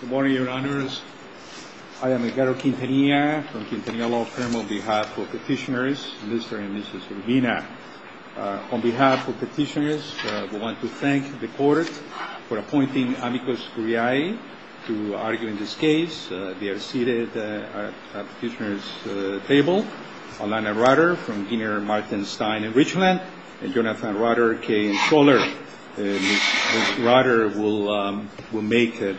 Good morning, Your Honors. I am Ricardo Quintanilla from Quintanilla Law Firm on behalf of Petitioners Mr. and Mrs. Urbina. On behalf of Petitioners, we want to thank the Court for appointing amicus curiae to argue in this case. They are seated at the Petitioner's table. Alana Rutter from Ginner, Martin, Stein & Richland and Jonathan Rutter, Kaye & Scholler. Ms. Rutter will make the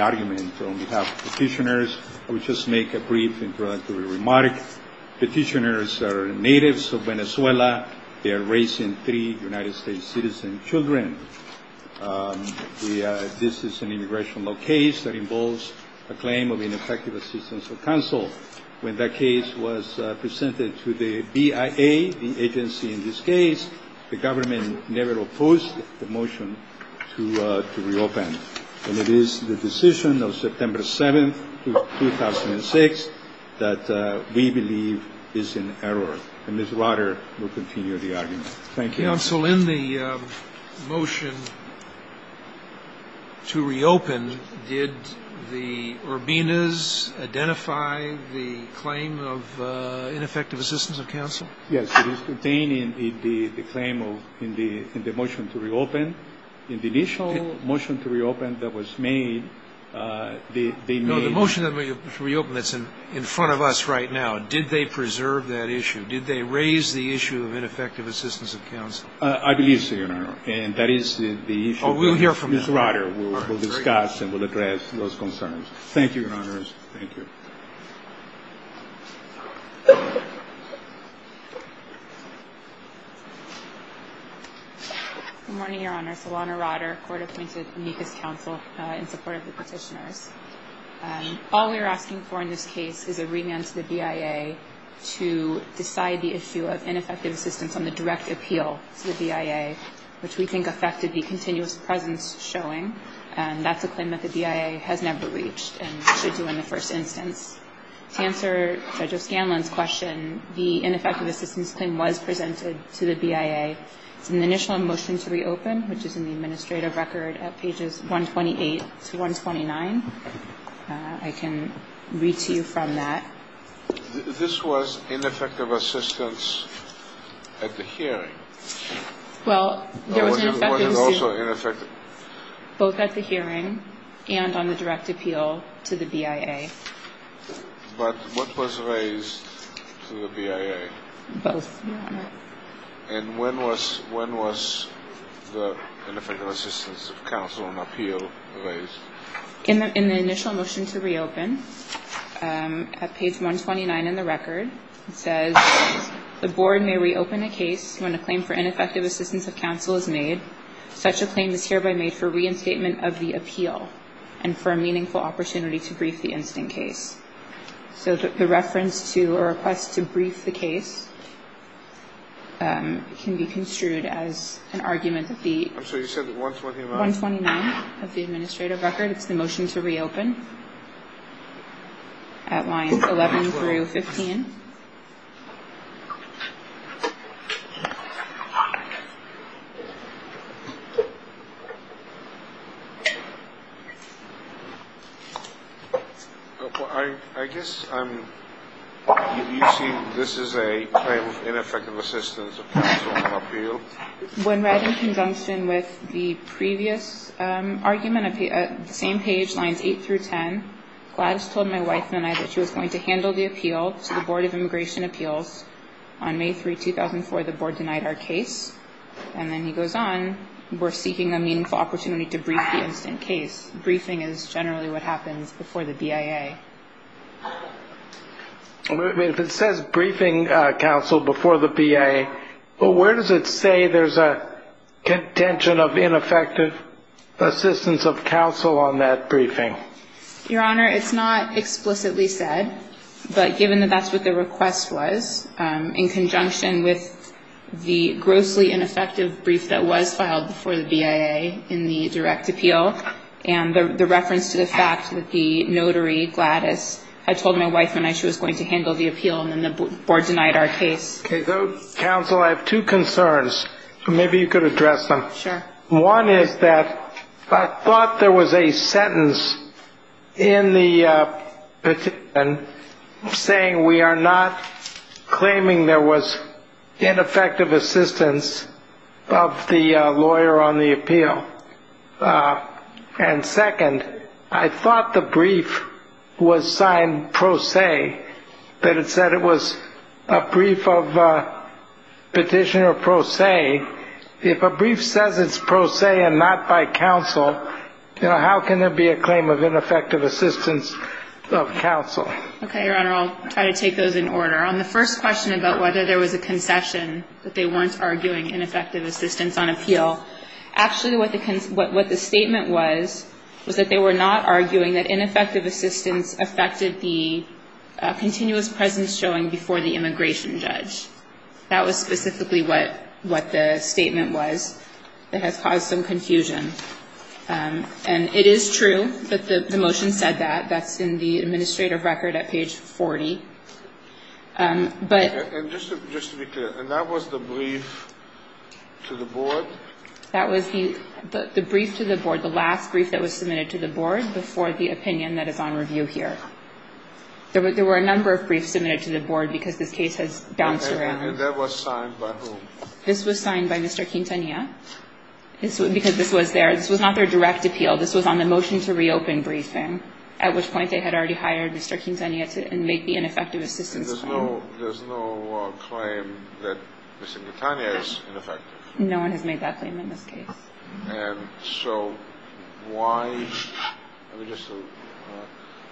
argument on behalf of Petitioners. I will just make a brief introductory remark. Petitioners are natives of Venezuela. They are raising three United States citizen children. This is an immigration law case that involves a claim of ineffective assistance of counsel. When that case was presented to the BIA, the agency in this case, the government never opposed the motion to reopen. And it is the decision of September 7, 2006, that we believe is in error. And Ms. Rutter will continue the argument. Thank you. Counsel, in the motion to reopen, did the Urbinas identify the claim of ineffective assistance of counsel? Yes. It is contained in the motion to reopen. In the initial motion to reopen that was made, they made No, the motion to reopen that's in front of us right now, did they preserve that issue? Did they raise the issue of ineffective assistance of counsel? I believe so, Your Honor. And that is the issue that Ms. Rutter will discuss and will address those concerns. Thank you, Your Honors. Thank you. Good morning, Your Honors. Alana Rutter, court-appointed amicus counsel in support of the Petitioners. All we are asking for in this case is a remand to the BIA to decide the issue of ineffective assistance on the direct appeal to the BIA, which we think affected the continuous presence showing. And that's a claim that the BIA has never reached and should do in the first instance. To answer Judge O'Scanlan's question, the ineffective assistance claim was presented to the BIA. It's in the initial motion to reopen, which is in the administrative record at pages 128 to 129. I can read to you from that. This was ineffective assistance at the hearing? Well, there was an effect to both at the hearing and on the direct appeal to the BIA. But what was raised to the BIA? Both, Your Honor. And when was the ineffective assistance of counsel on appeal raised? In the initial motion to reopen, at page 129 in the record, it says, the board may reopen a case when a claim for ineffective assistance of counsel is made. Such a claim is hereby made for reinstatement of the appeal and for a meaningful opportunity to brief the incident case. So the reference to a request to brief the case can be construed as an argument of the 129 of the administrative record. It's the motion to reopen at lines 11 through 15. I guess you see this is a claim of ineffective assistance of counsel on appeal? When read in conjunction with the previous argument at the same page, lines 8 through 10, Gladys told my wife and I that she was going to handle the appeal to the Board of Immigration Appeals. On May 3, 2004, the board denied our case. And then he goes on, we're seeking a meaningful opportunity to brief the incident case. Briefing is generally what happens before the BIA. If it says briefing counsel before the BIA, but where does it say there's a contention of ineffective assistance of counsel on that briefing? Your Honor, it's not explicitly said, but given that that's what the request was, in conjunction with the grossly ineffective brief that was filed before the BIA in the direct appeal, and the reference to the fact that the notary Gladys had told my wife and I she was going to handle the appeal, and then the board denied our case. Counsel, I have two concerns. Maybe you could address them. Sure. One is that I thought there was a sentence in the petition saying we are not claiming there was ineffective assistance of the lawyer on the appeal. And second, I thought the brief was signed pro se, that it said it was a brief of petitioner pro se. If a brief says it's pro se and not by counsel, how can there be a claim of ineffective assistance of counsel? Okay, Your Honor, I'll try to take those in order. On the first question about whether there was a concession that they weren't arguing ineffective assistance on appeal, actually what the statement was was that they were not arguing that ineffective assistance affected the continuous presence showing before the immigration judge. That was specifically what the statement was that has caused some confusion. And it is true that the motion said that. That's in the administrative record at page 40. And just to be clear, and that was the brief to the board? That was the brief to the board, the last brief that was submitted to the board before the opinion that is on review here. There were a number of briefs submitted to the board because this case has bounced around. And that was signed by whom? This was signed by Mr. Quintanilla because this was there. This was not their direct appeal. This was on the motion to reopen briefing, at which point they had already hired Mr. Quintanilla to make the ineffective assistance claim. And there's no claim that Mr. Quintanilla is ineffective? No one has made that claim in this case. And so why? Just to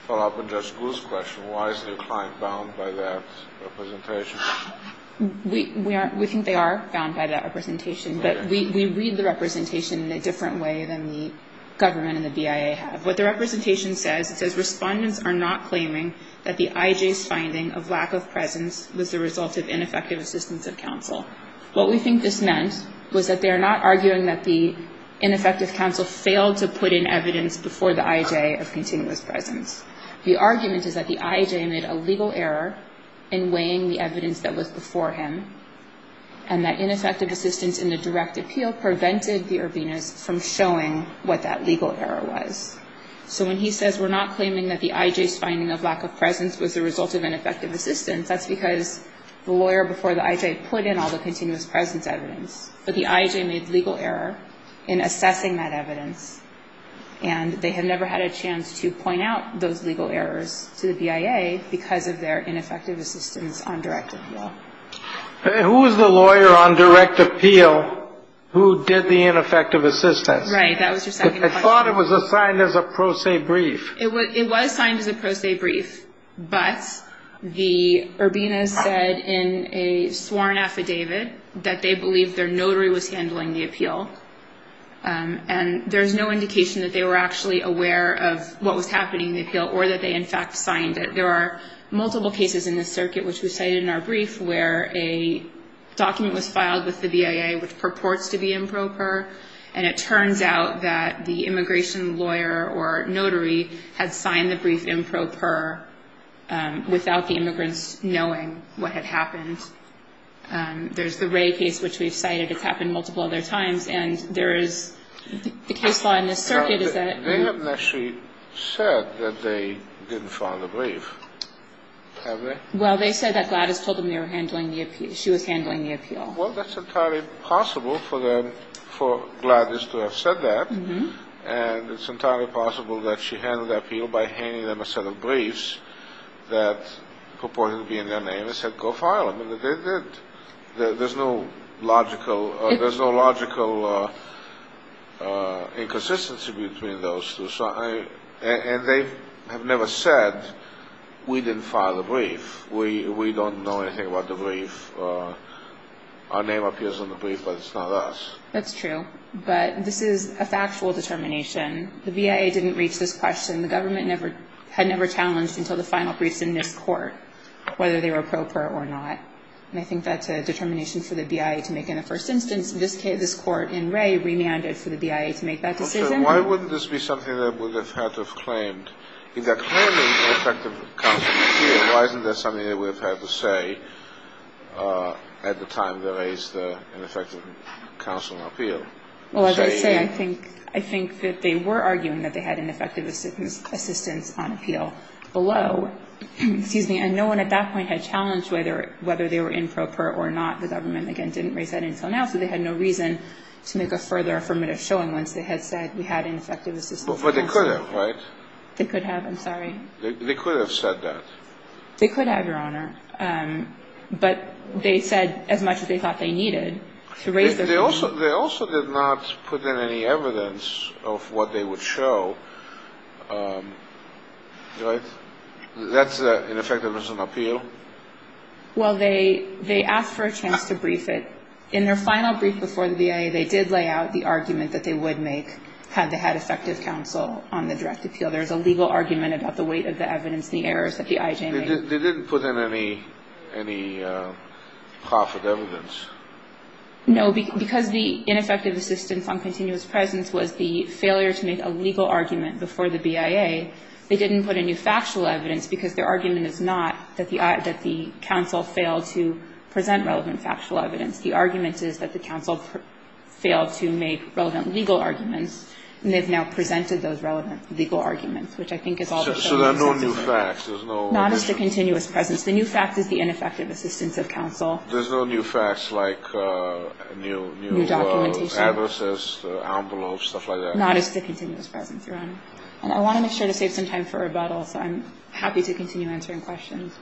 follow up on Judge Gould's question, why is the client bound by that representation? We think they are bound by that representation. But we read the representation in a different way than the government and the BIA have. What the representation says, it says, Respondents are not claiming that the IJ's finding of lack of presence was the result of ineffective assistance of counsel. What we think this meant was that they are not arguing that the ineffective counsel failed to put in evidence before the IJ of continuous presence. The argument is that the IJ made a legal error in weighing the evidence that was before him and that ineffective assistance in the direct appeal prevented the Urbinas from showing what that legal error was. So when he says we're not claiming that the IJ's finding of lack of presence was the result of ineffective assistance, that's because the lawyer before the IJ put in all the continuous presence evidence. But the IJ made the legal error in assessing that evidence, and they have never had a chance to point out those legal errors to the BIA because of their ineffective assistance on direct appeal. Who was the lawyer on direct appeal who did the ineffective assistance? Right, that was your second question. I thought it was assigned as a pro se brief. It was assigned as a pro se brief, but the Urbinas said in a sworn affidavit that they believed their notary was handling the appeal. And there's no indication that they were actually aware of what was happening in the appeal or that they in fact signed it. There are multiple cases in this circuit which we cited in our brief where a document was filed with the BIA which purports to be improper, and it turns out that the immigration lawyer or notary had signed the brief improper without the immigrants knowing what had happened. And there's the Ray case which we've cited. It's happened multiple other times. And there is the case law in this circuit is that they haven't actually said that they didn't file the brief, have they? Well, they said that Gladys told them she was handling the appeal. Well, that's entirely possible for Gladys to have said that, and it's entirely possible that she handled the appeal by handing them a set of briefs that purported to be in their name and just said, go file them. And they did. There's no logical inconsistency between those two. And they have never said, we didn't file the brief. We don't know anything about the brief. Our name appears on the brief, but it's not us. That's true. But this is a factual determination. The BIA didn't reach this question. The government had never challenged until the final briefs in this court whether they were appropriate or not. And I think that's a determination for the BIA to make in the first instance. In this case, this court in Ray remanded for the BIA to make that decision. Why wouldn't this be something they would have had to have claimed? If they're claiming ineffective counsel and appeal, why isn't there something they would have had to say at the time they raised the ineffective counsel and appeal? Well, as I say, I think that they were arguing that they had ineffective assistance on appeal below. And no one at that point had challenged whether they were improper or not. The government, again, didn't raise that until now, so they had no reason to make a further affirmative showing once they had said we had ineffective assistance on counsel. But they could have, right? They could have. I'm sorry. They could have said that. They could have, Your Honor. But they said as much as they thought they needed to raise their opinion. They also did not put in any evidence of what they would show, right? That's ineffective assistance on appeal? Well, they asked for a chance to brief it. In their final brief before the BIA, they did lay out the argument that they would make had they had effective counsel on the direct appeal. There's a legal argument about the weight of the evidence and the errors that the IJ made. They didn't put in any profit evidence? No. Because the ineffective assistance on continuous presence was the failure to make a legal argument before the BIA, they didn't put in new factual evidence, because their argument is not that the counsel failed to present relevant factual evidence. The argument is that the counsel failed to make relevant legal arguments, and they've now presented those relevant legal arguments, which I think is all that they're saying. So there are no new facts? There's no additional? Not as to continuous presence. The new fact is the ineffective assistance of counsel. There's no new facts like new addresses, envelopes, stuff like that? Not as to continuous presence, Your Honor. And I want to make sure to save some time for rebuttals. I'm happy to continue answering questions.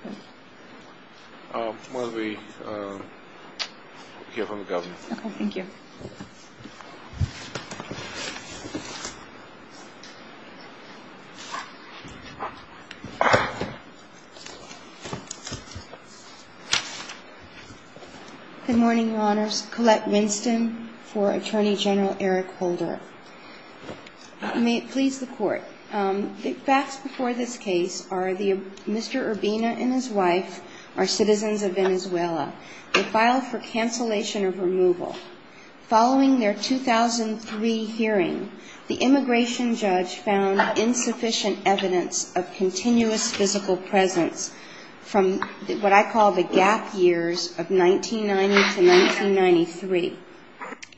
We'll hear from the Governor. Okay. Thank you. Good morning, Your Honors. Collette Winston for Attorney General Eric Holder. May it please the Court. The facts before this case are Mr. Urbina and his wife are citizens of Venezuela. They filed for cancellation of removal. Following their 2003 hearing, the immigration judge found insufficient evidence of continuous physical presence from what I call the gap years of 1990 to 1993.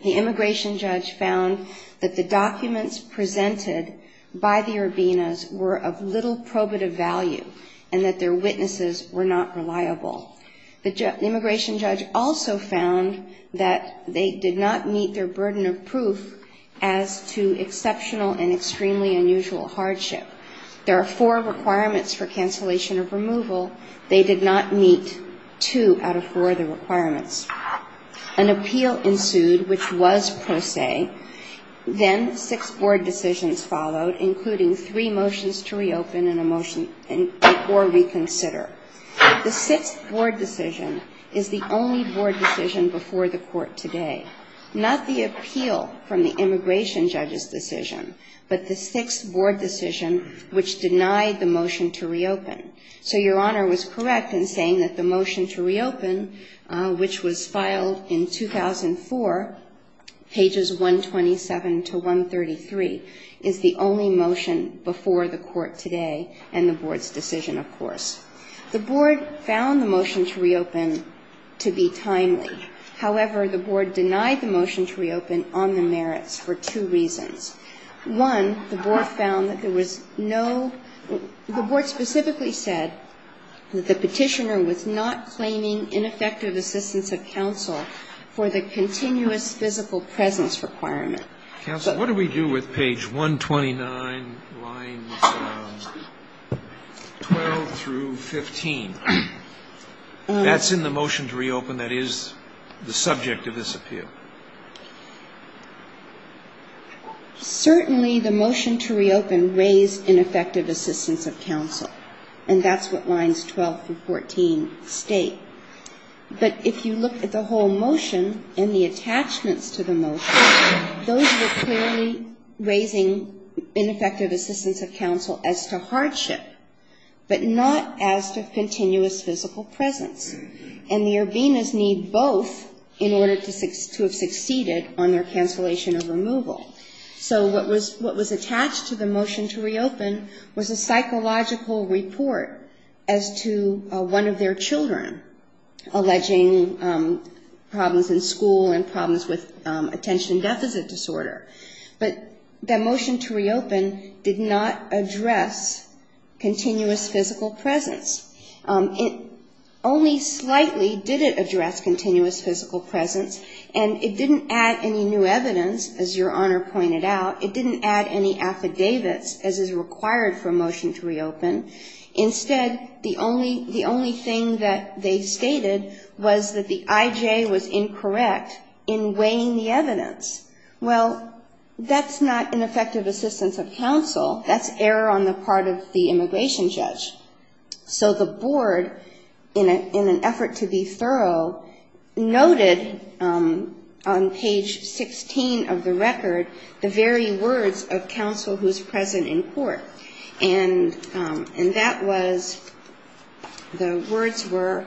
The immigration judge found that the documents presented by the Urbinas were of little probative value and that their witnesses were not reliable. The immigration judge also found that they did not meet their burden of proof as to exceptional and extremely unusual hardship. There are four requirements for cancellation of removal. They did not meet two out of four of the requirements. An appeal ensued, which was pro se. Then six board decisions followed, including three motions to reopen and a motion for reconsider. The sixth board decision is the only board decision before the Court today. Not the appeal from the immigration judge's decision, but the sixth board decision, which denied the motion to reopen. So Your Honor was correct in saying that the motion to reopen, which was filed in 2004, pages 127 to 133, is the only motion before the Court today and the board's decision, of course. The board found the motion to reopen to be timely. However, the board denied the motion to reopen on the merits for two reasons. One, the board found that there was no the board specifically said that the petitioner was not claiming ineffective assistance of counsel for the continuous physical presence requirement. Counsel, what do we do with page 129, lines 12 through 15? That's in the motion to reopen that is the subject of this appeal. Certainly the motion to reopen raised ineffective assistance of counsel, and that's what lines 12 through 14 state. But if you look at the whole motion and the attachments to the motion, those were clearly raising ineffective assistance of counsel as to hardship, but not as to continuous physical presence. And the Urbinas need both in order to have succeeded on their cancellation of removal. So what was attached to the motion to reopen was a psychological report as to one of their children alleging problems in school and problems with attention deficit disorder. But the motion to reopen did not address continuous physical presence. It only slightly did it address continuous physical presence, and it didn't add any new evidence, as Your Honor pointed out. It didn't add any affidavits as is required for a motion to reopen. Instead, the only thing that they stated was that the IJ was incorrect in weighing the evidence. Well, that's not ineffective assistance of counsel. That's error on the part of the immigration judge. So the board, in an effort to be thorough, noted on page 16 of the record the very words of counsel who's present in court. And that was, the words were,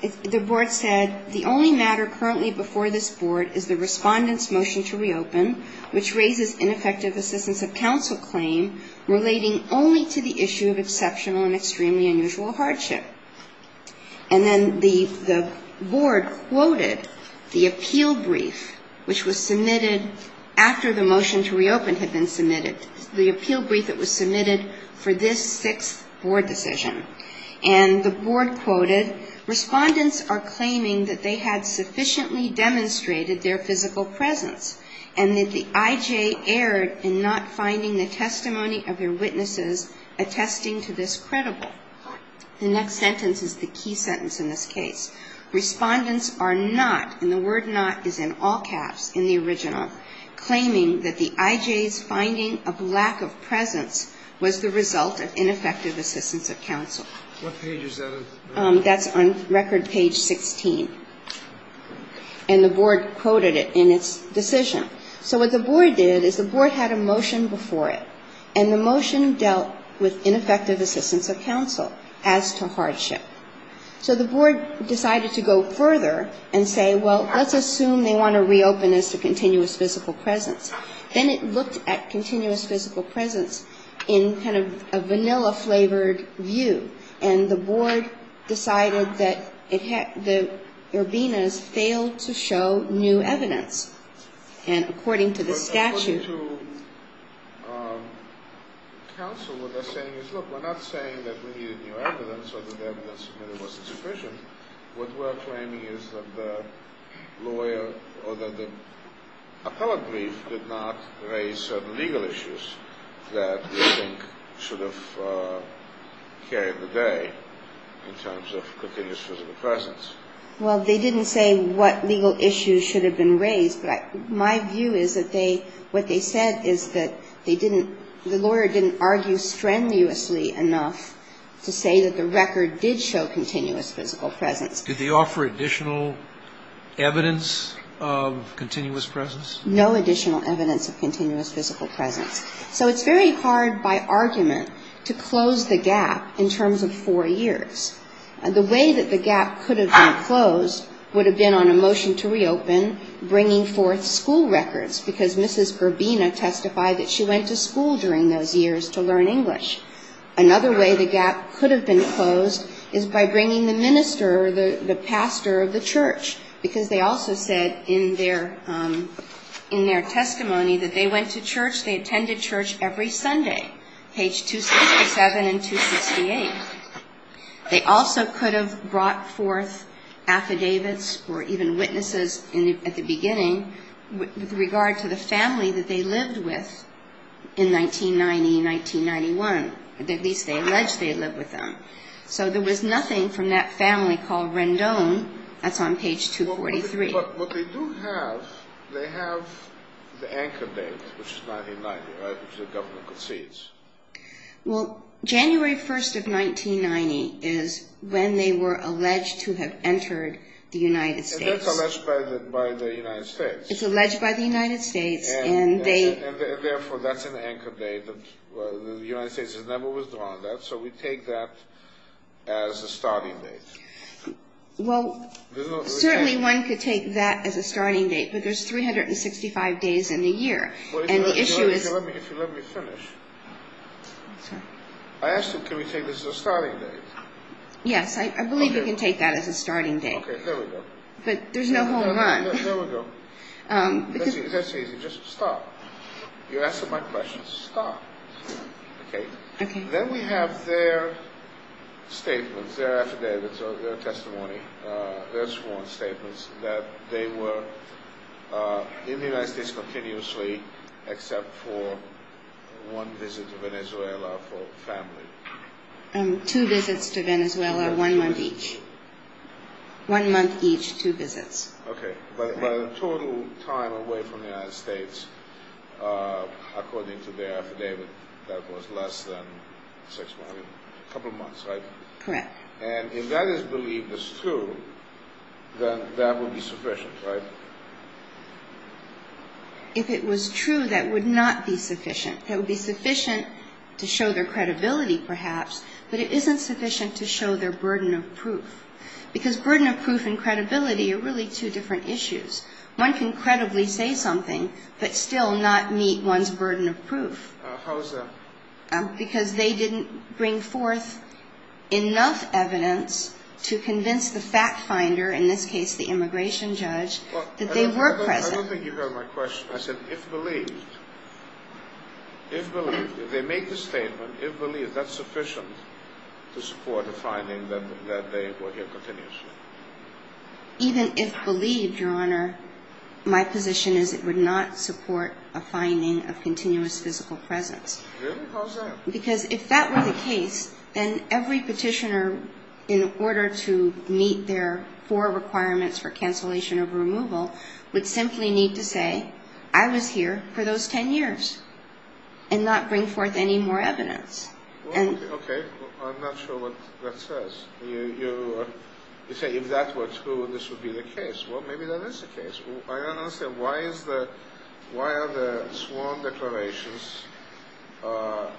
the board said, the only thing that the judge said, the only matter currently before this board is the respondent's motion to reopen, which raises ineffective assistance of counsel claim relating only to the issue of exceptional and extremely unusual hardship. And then the board quoted the appeal brief which was submitted after the motion to reopen had been submitted, the appeal brief that was submitted for this sixth board decision. And the board quoted, respondents are claiming that they had sufficiently demonstrated their physical presence and that the IJ erred in not finding the testimony of their witnesses attesting to this credible. The next sentence is the key sentence in this case. Respondents are not, and the word not is in all caps in the original, claiming that the IJ's finding of lack of presence was the result of ineffective assistance of counsel. That's on record page 16. And the board quoted it in its decision. So what the board did is the board had a motion before it, and the motion dealt with ineffective assistance of counsel as to hardship. So the board decided to go further and say, well, let's assume they want to reopen as to continuous physical presence. Then it looked at continuous physical presence in kind of a vanilla-flavored view, and the board decided that it had, the Urbinas failed to show new evidence. And according to the statute. According to counsel, what they're saying is, look, we're not saying that we needed new evidence or that the evidence submitted wasn't sufficient. What we're claiming is that the lawyer or that the appellate brief did not raise certain legal issues that we think should have carried the day in terms of continuous physical presence. Well, they didn't say what legal issues should have been raised, but my view is that they, what they said is that they didn't, the lawyer didn't argue strenuously enough to say that the record did show continuous physical presence. Did they offer additional evidence of continuous presence? No additional evidence of continuous physical presence. So it's very hard by argument to close the gap in terms of four years. The way that the gap could have been closed would have been on a motion to reopen bringing forth school records because Mrs. Urbina testified that she went to school during those years to learn English. Another way the gap could have been closed is by bringing the minister or the pastor of the church because they also said in their testimony that they went to church, they attended church every Sunday, page 267 and 268. They also could have brought forth affidavits or even witnesses at the beginning with regard to the family that they lived with in 1990, 1991, at least they alleged they lived with them. So there was nothing from that family called Rendon. That's on page 243. But what they do have, they have the anchor date, which is 1990, right, which the government concedes. Well, January 1st of 1990 is when they were alleged to have entered the United States. And that's alleged by the United States. It's alleged by the United States. And therefore that's an anchor date. The United States has never withdrawn that. So we take that as a starting date. Well, certainly one could take that as a starting date, but there's 365 days in the year. If you let me finish. I asked you, can we take this as a starting date? Yes, I believe you can take that as a starting date. Okay, there we go. But there's no home run. There we go. That's easy. Just stop. You're asking my questions. Stop. Okay. Then we have their statements, their affidavits, their testimony, their sworn statements, that they were in the United States continuously except for one visit to Venezuela for family. Two visits to Venezuela, one month each. One month each, two visits. Okay. But the total time away from the United States, according to their affidavit, that was less than six months, a couple months, right? Correct. And if that is believed as true, then that would be sufficient, right? If it was true, that would not be sufficient. It would be sufficient to show their credibility, perhaps, but it isn't sufficient to show their burden of proof. Because burden of proof and credibility are really two different issues. One can credibly say something but still not meet one's burden of proof. How is that? Because they didn't bring forth enough evidence to convince the fact finder, in this case the immigration judge, that they were present. I don't think you heard my question. I said if believed. If believed. If they make the statement, if believed, that's sufficient to support the finding that they were here continuously. Even if believed, Your Honor, my position is it would not support a finding of continuous physical presence. Really? How is that? Because if that were the case, then every petitioner, in order to meet their four requirements for cancellation of removal, would simply need to say, I was here for those ten years, and not bring forth any more evidence. Okay. I'm not sure what that says. You say if that were true, this would be the case. Well, maybe that is the case. I don't understand. Why are the sworn declarations of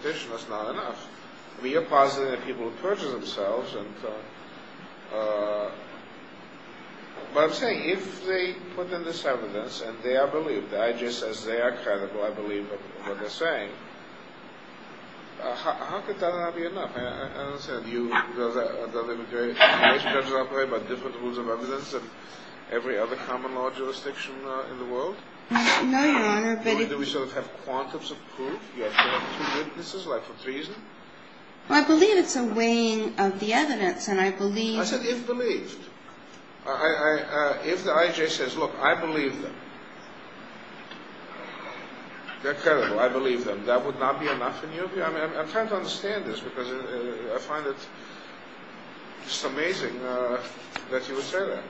petitioners not enough? I mean, you're positive that people have purged themselves. But I'm saying if they put in this evidence, and they are believed, I just, as they are credible, I believe what they're saying, how could that not be enough? I don't understand. You are very prejudiced about different rules of evidence than every other common law jurisdiction in the world? No, Your Honor. Or do we sort of have quantums of proof? You have two witnesses, like for treason? Well, I believe it's a weighing of the evidence. And I believe... I said if believed. If the IJ says, look, I believe them, they're credible. I believe them. That would not be enough in your view? I'm trying to understand this, because I find it just amazing that you would say that.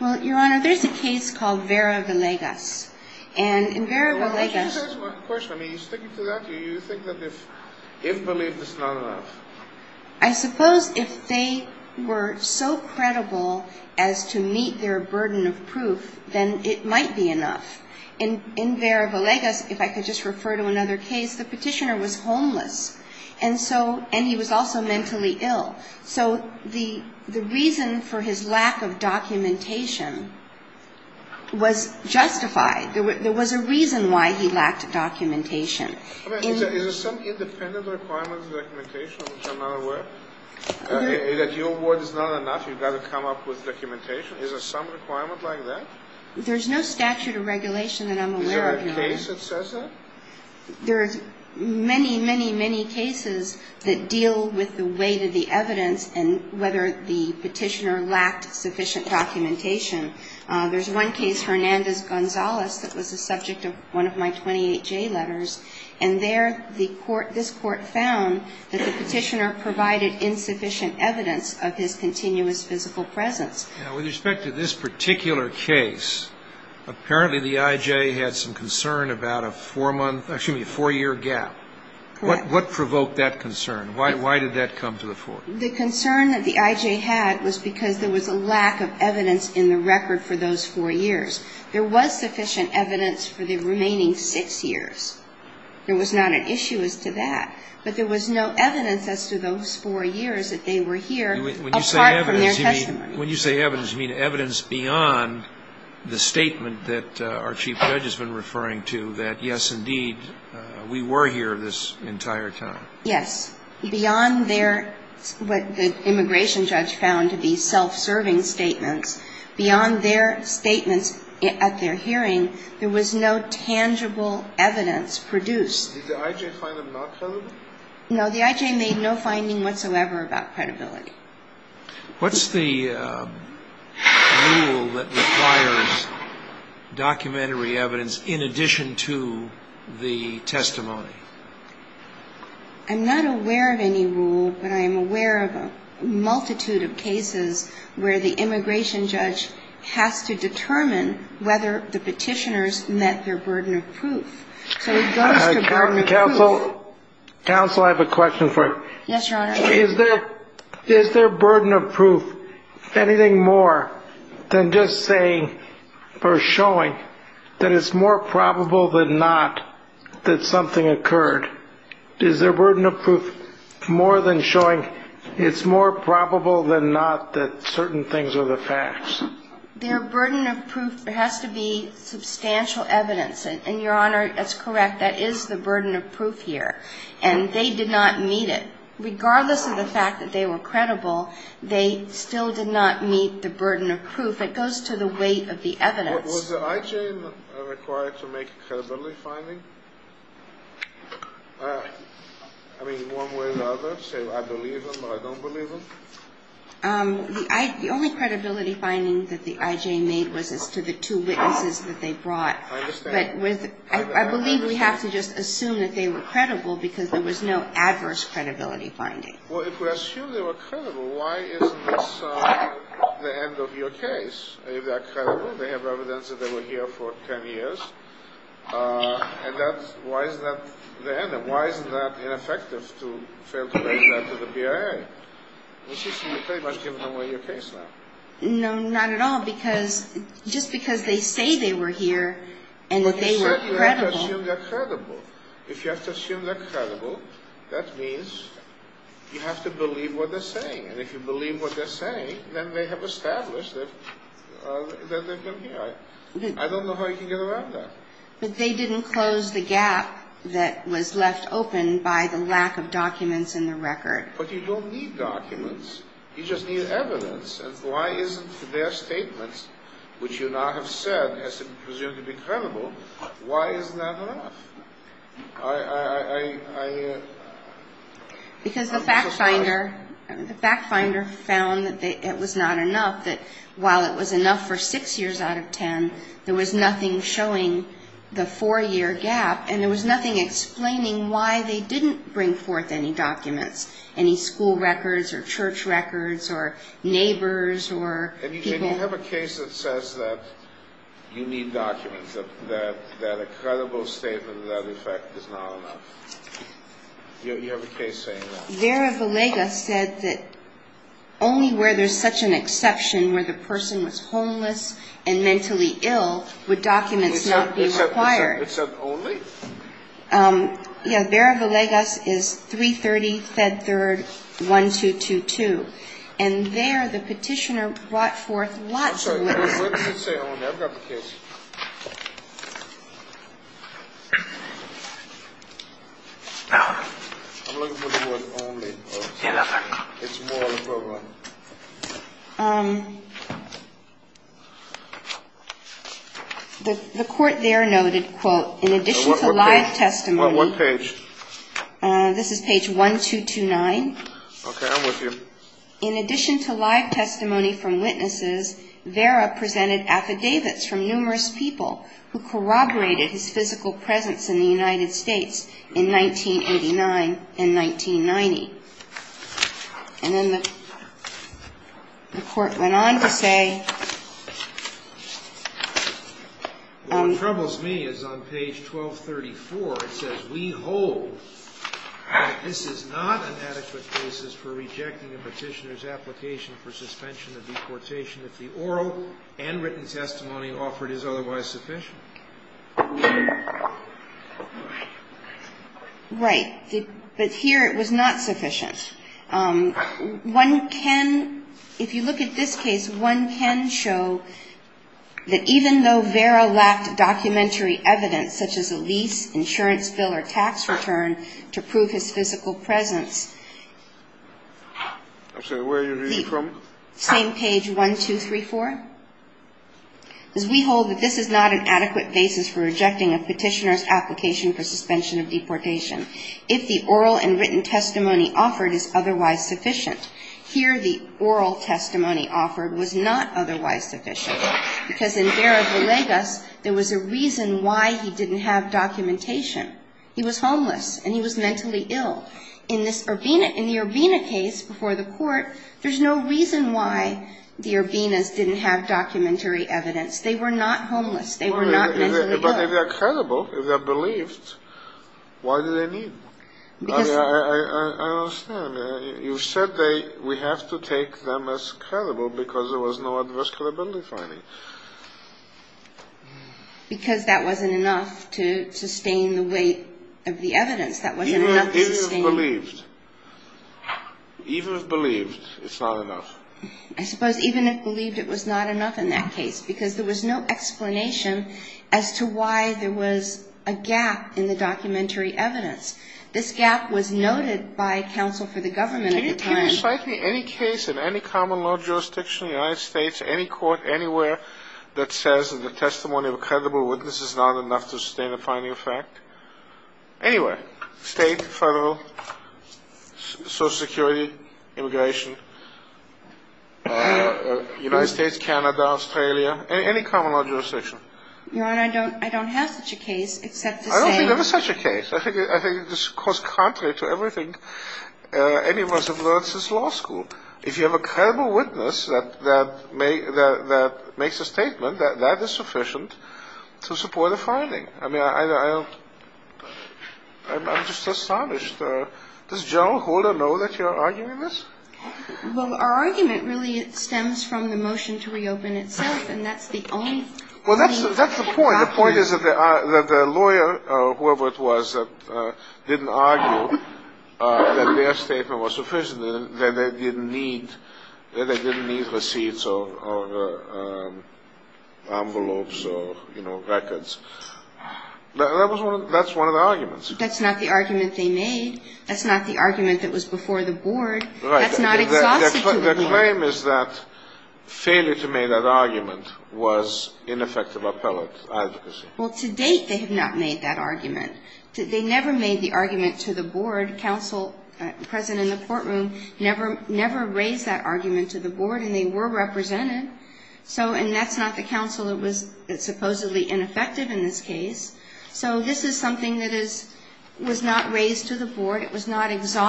Well, Your Honor, there's a case called Vera Villegas. And in Vera Villegas... Well, let me just ask you one question. I mean, are you sticking to that? Do you think that if believed, it's not enough? I suppose if they were so credible as to meet their burden of proof, then it might be enough. In Vera Villegas, if I could just refer to another case, the petitioner was homeless, and he was also mentally ill. So the reason for his lack of documentation was justified. There was a reason why he lacked documentation. Is there some independent requirement of documentation, which I'm not aware of, that your word is not enough, you've got to come up with documentation? Is there some requirement like that? There's no statute or regulation that I'm aware of, Your Honor. Is there a case that says that? There are many, many, many cases that deal with the weight of the evidence and whether the petitioner lacked sufficient documentation. There's one case, Hernandez-Gonzalez, that was the subject of one of my 28J letters. And there this Court found that the petitioner provided insufficient evidence of his continuous physical presence. Now, with respect to this particular case, apparently the IJ had some concern about a four-month, excuse me, a four-year gap. What provoked that concern? Why did that come to the fore? The concern that the IJ had was because there was a lack of evidence in the record for those four years. There was sufficient evidence for the remaining six years. There was not an issue as to that. But there was no evidence as to those four years that they were here, apart from their testimony. When you say evidence, you mean evidence beyond the statement that our Chief Judge has been referring to, that, yes, indeed, we were here this entire time? Yes. Beyond their, what the immigration judge found to be self-serving statements, beyond their statements at their hearing, there was no tangible evidence produced. Did the IJ find them not credible? No, the IJ made no finding whatsoever about credibility. What's the rule that requires documentary evidence in addition to the testimony? I'm not aware of any rule, but I am aware of a multitude of cases where the immigration judge has to determine whether the petitioners met their burden of proof. So it goes to burden of proof. Counsel, I have a question for you. Yes, Your Honor. Is their burden of proof anything more than just saying or showing that it's more probable than not that something occurred? Is their burden of proof more than showing it's more probable than not that certain things are the facts? Their burden of proof has to be substantial evidence. And, Your Honor, that's correct. That is the burden of proof here. And they did not meet it. Regardless of the fact that they were credible, they still did not meet the burden of proof. It goes to the weight of the evidence. Was the IJ required to make a credibility finding? I mean, one way or the other, say I believe them or I don't believe them? The only credibility finding that the IJ made was as to the two witnesses that they brought. I understand. But I believe we have to just assume that they were credible because there was no adverse credibility finding. Well, if we assume they were credible, why isn't this the end of your case? If they are credible, they have evidence that they were here for 10 years, and that's why is that the end? And why is that ineffective to fail to make that to the BIA? Which is to say you've pretty much given away your case now. No, not at all. Because just because they say they were here and that they were credible. Well, certainly you have to assume they're credible. If you have to assume they're credible, that means you have to believe what they're saying. And if you believe what they're saying, then they have established that they've been here. I don't know how you can get around that. But they didn't close the gap that was left open by the lack of documents in the record. But you don't need documents. You just need evidence. And why isn't their statement, which you now have said is presumed to be credible, why isn't that enough? Because the fact finder found that it was not enough, that while it was enough for 6 years out of 10, there was nothing showing the 4-year gap, and there was nothing explaining why they didn't bring forth any documents, any school records or church records or neighbors or people. And, Eugene, you have a case that says that you need documents, that a credible statement of that effect is not enough. You have a case saying that. Vera Villegas said that only where there's such an exception where the person was homeless and mentally ill would documents not be required. It said only? Yeah. Vera Villegas is 330 Fed Third 1222. And there the petitioner brought forth lots of evidence. I'm sorry. What does it say on there? I've got the case. I'm looking for the word only. It's more than provable. The court there noted, quote, in addition to live testimony. What page? This is page 1229. Okay. I'm with you. In addition to live testimony from witnesses, Vera presented affidavits from numerous people who corroborated his physical presence in the United States in 1989 and 1990. And then the court went on to say. What troubles me is on page 1234 it says, we hold that this is not an adequate basis for rejecting a petitioner's application for suspension of deportation if the oral and written testimony offered is otherwise sufficient. Right. But here it was not sufficient. One can, if you look at this case, one can show that even though Vera lacked documentary evidence such as a lease, insurance bill or tax return to prove his physical presence. I'm sorry. Where are you reading from? Same page 1234. We hold that this is not an adequate basis for rejecting a petitioner's application for suspension of deportation if the oral and written testimony offered is otherwise sufficient. Here the oral testimony offered was not otherwise sufficient because in Vera Villegas there was a reason why he didn't have documentation. He was homeless and he was mentally ill. In this Urbina, in the Urbina case before the court, there's no reason why the Urbinas didn't have documentary evidence. They were not homeless. They were not mentally ill. But if they're credible, if they're believed, why do they need them? Because. I understand. You said we have to take them as credible because there was no adversarial ability finding. Because that wasn't enough to sustain the weight of the evidence. That wasn't enough to sustain. Even if believed. Even if believed, it's not enough. I suppose even if believed, it was not enough in that case because there was no explanation as to why there was a gap in the documentary evidence. This gap was noted by counsel for the government at the time. Can you cite me any case in any common law jurisdiction in the United States, any court anywhere, that says that the testimony of a credible witness is not enough to sustain a finding of fact? Anywhere. State, federal, social security, immigration, United States, Canada, Australia, any common law jurisdiction. Your Honor, I don't have such a case except to say. I don't believe there was such a case. I think it's just contrary to everything any of us have learned since law school. If you have a credible witness that makes a statement, that is sufficient to support a finding. I mean, I'm just astonished. Does General Holder know that you're arguing this? Well, our argument really stems from the motion to reopen itself, and that's the only. Well, that's the point. The point is that the lawyer or whoever it was that didn't argue that their statement was sufficient, that they didn't need receipts or envelopes or, you know, records. That's one of the arguments. That's not the argument they made. That's not the argument that was before the board. Right. That's not exhaustive to the board. The claim is that failure to make that argument was ineffective appellate advocacy. Well, to date they have not made that argument. They never made the argument to the board. Counsel present in the courtroom never raised that argument to the board, and they were represented. So, and that's not the counsel that was supposedly ineffective in this case. So this is something that is – was not raised to the board. I think you're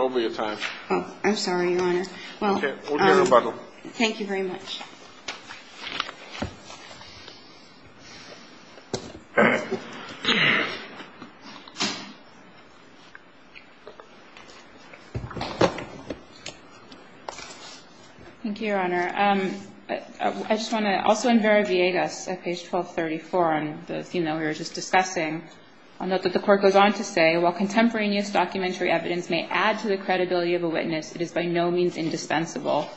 over your time. I'm sorry, Your Honor. Well, thank you very much. Thank you, Your Honor. I just want to, also in Vera Viegas at page 1234 on the theme that we were just discussing, I'll note that the court goes on to say, while contemporaneous documentary evidence may add to the credibility of a witness, it is by no means indispensable.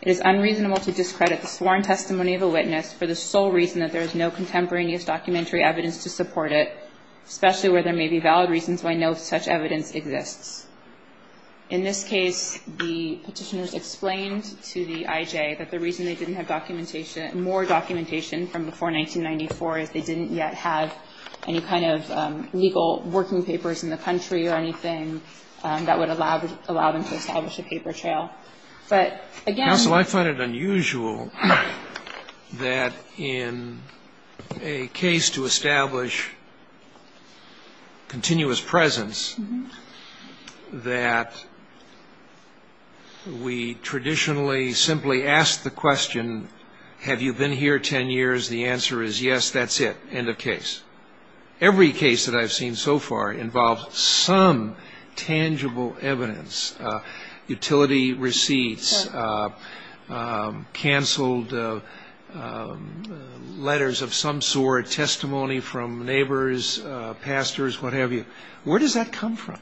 It is unreasonable to discredit the sworn testimony of a witness for the sole reason that there is no contemporaneous documentary evidence to support it, especially where there may be valid reasons why no such evidence exists. In this case, the Petitioners explained to the I.J. that the reason they didn't have documentation, more documentation from before 1994, is they didn't yet have any kind of legal working papers in the country or anything that would allow them to establish a paper trail. that we traditionally simply ask the question, have you been here ten years? The answer is yes, that's it, end of case. Every case that I've seen so far involves some tangible evidence, utility receipts, canceled letters of some sort, testimony from neighbors, pastors, what have you. Where does that come from?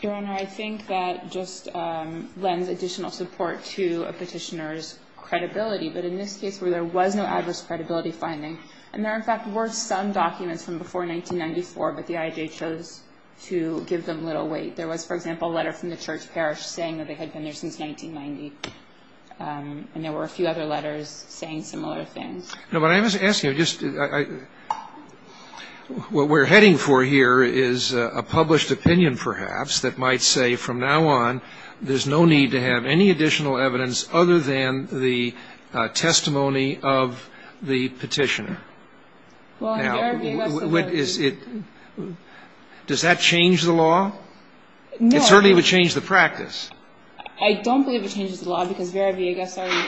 Harrington. Your Honor, I think that just lends additional support to a Petitioner's credibility, but in this case where there was no adverse credibility finding, and there in fact were some documents from before 1994, but the I.J. chose to give them little weight. There was, for example, a letter from the church parish saying that they had been there since 1990, and there were a few other letters saying similar things. No, but I'm just asking, what we're heading for here is a published opinion perhaps that might say from now on there's no need to have any additional evidence other than the testimony of the Petitioner. Now, does that change the law? No. It certainly would change the practice. I don't believe it changes the law because Vera V. Harrington is following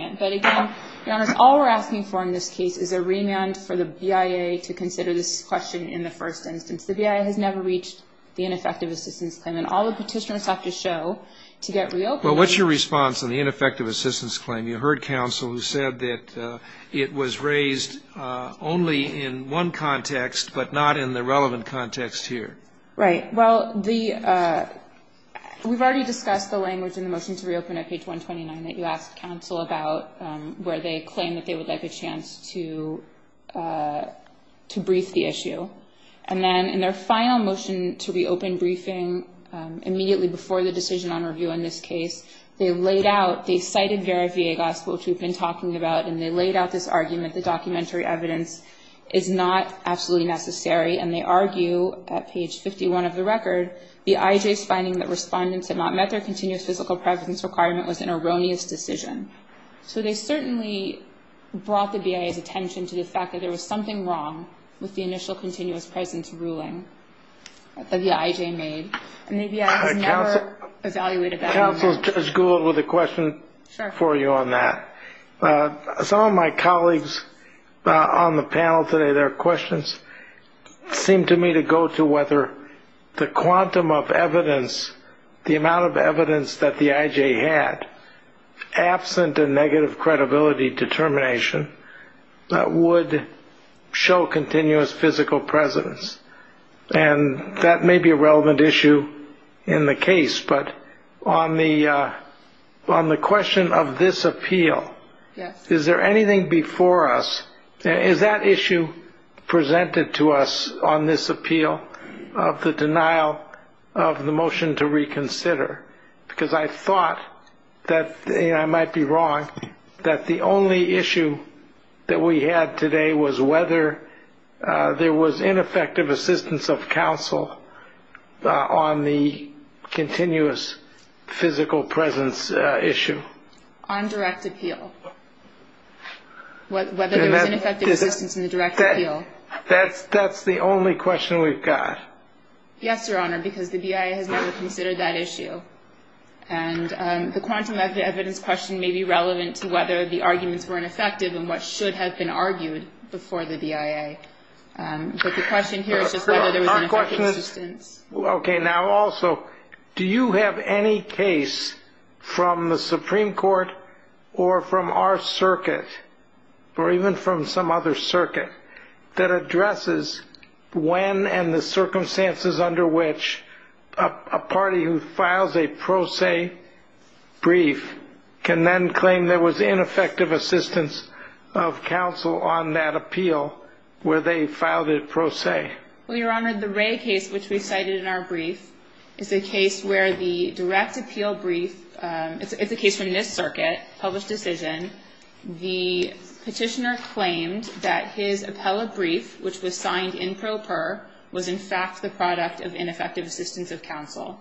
it. But again, Your Honor, all we're asking for in this case is a remand for the BIA to consider this question in the first instance. The BIA has never reached the ineffective assistance claim, and all the Petitioners have to show to get reopened. Well, what's your response on the ineffective assistance claim? You heard counsel who said that it was raised only in one context, but not in the relevant context here. Right. Well, the we've already discussed the language in the motion to reopen at page 129 that you asked counsel about where they claimed that they would like a chance to brief the issue. And then in their final motion to reopen briefing immediately before the decision on review in this case, they laid out, they cited Vera V. Agos, which we've been talking about, and they laid out this argument that documentary evidence is not absolutely necessary. And they argue at page 51 of the record, the IJ's finding that respondents had not met their continuous physical presence requirement was an erroneous decision. So they certainly brought the BIA's attention to the fact that there was something wrong with the initial continuous presence ruling that the IJ made. And the BIA has never evaluated that. Counsel, just a question for you on that. Some of my colleagues on the panel today, their questions seem to me to go to whether the quantum of evidence, the amount of evidence that the IJ had, absent a negative credibility determination that would show continuous physical presence. And that may be a relevant issue in the case. But on the question of this appeal, is there anything before us, is that issue presented to us on this appeal of the denial of the motion to reconsider? Because I thought that I might be wrong, that the only issue that we had today was whether there was ineffective assistance of counsel on the continuous physical presence issue. On direct appeal. Whether there was ineffective assistance in the direct appeal. That's the only question we've got. Yes, Your Honor, because the BIA has never considered that issue. And the quantum of evidence question may be relevant to whether the arguments were ineffective and what should have been argued before the BIA. But the question here is just whether there was ineffective assistance. Okay, now also, do you have any case from the Supreme Court or from our circuit, or even from some other circuit, that addresses when and the circumstances under which a party who files a pro se brief can then claim there was ineffective assistance of counsel on that appeal where they filed it pro se? Well, Your Honor, the Ray case, which we cited in our brief, is a case where the direct appeal brief, it's a case from this circuit, published decision. The petitioner claimed that his appellate brief, which was signed in pro per, was in fact the product of ineffective assistance of counsel.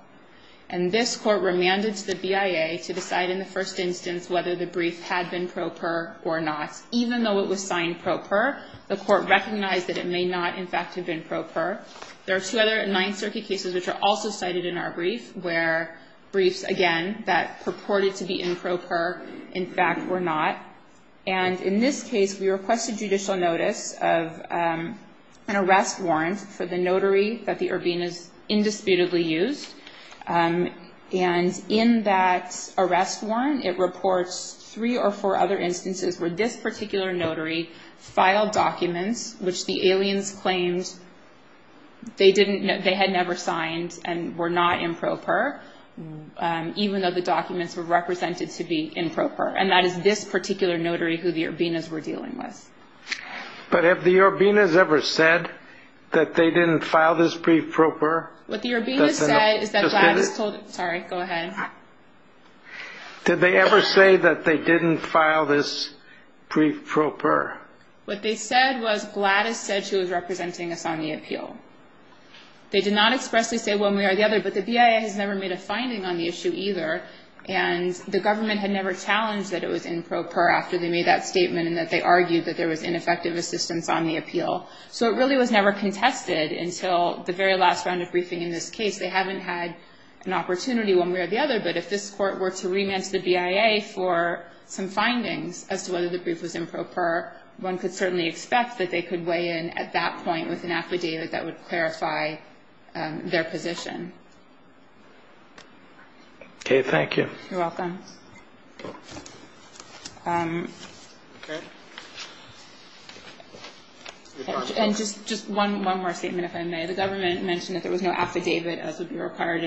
And this court remanded to the BIA to decide in the first instance whether the brief had been pro per or not. Even though it was signed pro per, the court recognized that it may not, in fact, have been pro per. There are two other Ninth Circuit cases which are also cited in our brief, where briefs, again, that purported to be in pro per, in fact, were not. And in this case, we requested judicial notice of an arrest warrant for the notary that the Urbinas indisputably used. And in that arrest warrant, it reports three or four other instances where this particular notary filed documents which the aliens claimed they had never signed and were not in pro per, even though the documents were represented to be in pro per. And that is this particular notary who the Urbinas were dealing with. But have the Urbinas ever said that they didn't file this brief pro per? What the Urbinas said is that Gladys told them. Sorry, go ahead. Did they ever say that they didn't file this brief pro per? What they said was Gladys said she was representing us on the appeal. They did not expressly say one way or the other, but the BIA has never made a finding on the issue either, and the government had never challenged that it was in pro per after they made that statement and that they argued that there was ineffective assistance on the appeal. So it really was never contested until the very last round of briefing in this case. They haven't had an opportunity one way or the other, but if this Court were to remand to the BIA for some findings as to whether the brief was in pro per, one could certainly expect that they could weigh in at that point with an affidavit that would clarify their position. Okay, thank you. You're welcome. Okay. And just one more statement, if I may. The government mentioned that there was no affidavit as would be required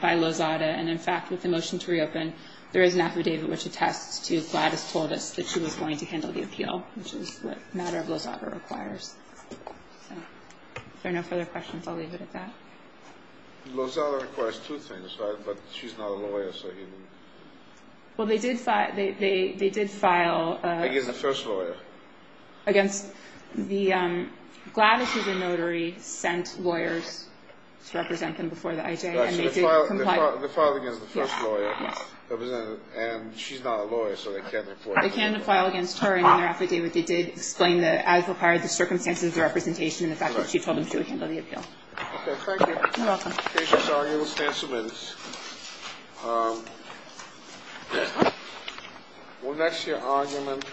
by Lozada, and, in fact, with the motion to reopen, there is an affidavit which attests to Gladys told us that she was going to handle the appeal, which is what the matter of Lozada requires. So if there are no further questions, I'll leave it at that. Lozada requires two things, right, but she's not a lawyer, Well, they did file against the first lawyer. Gladys, who's a notary, sent lawyers to represent them before the IJ, and they did comply. They filed against the first lawyer, and she's not a lawyer, so they can't report it. They can't file against her in their affidavit. They did explain that, as required, the circumstances of the representation and the fact that she told them she would handle the appeal. Okay, thank you. You're welcome. The case is argued. We'll stand some minutes. We'll next hear argument.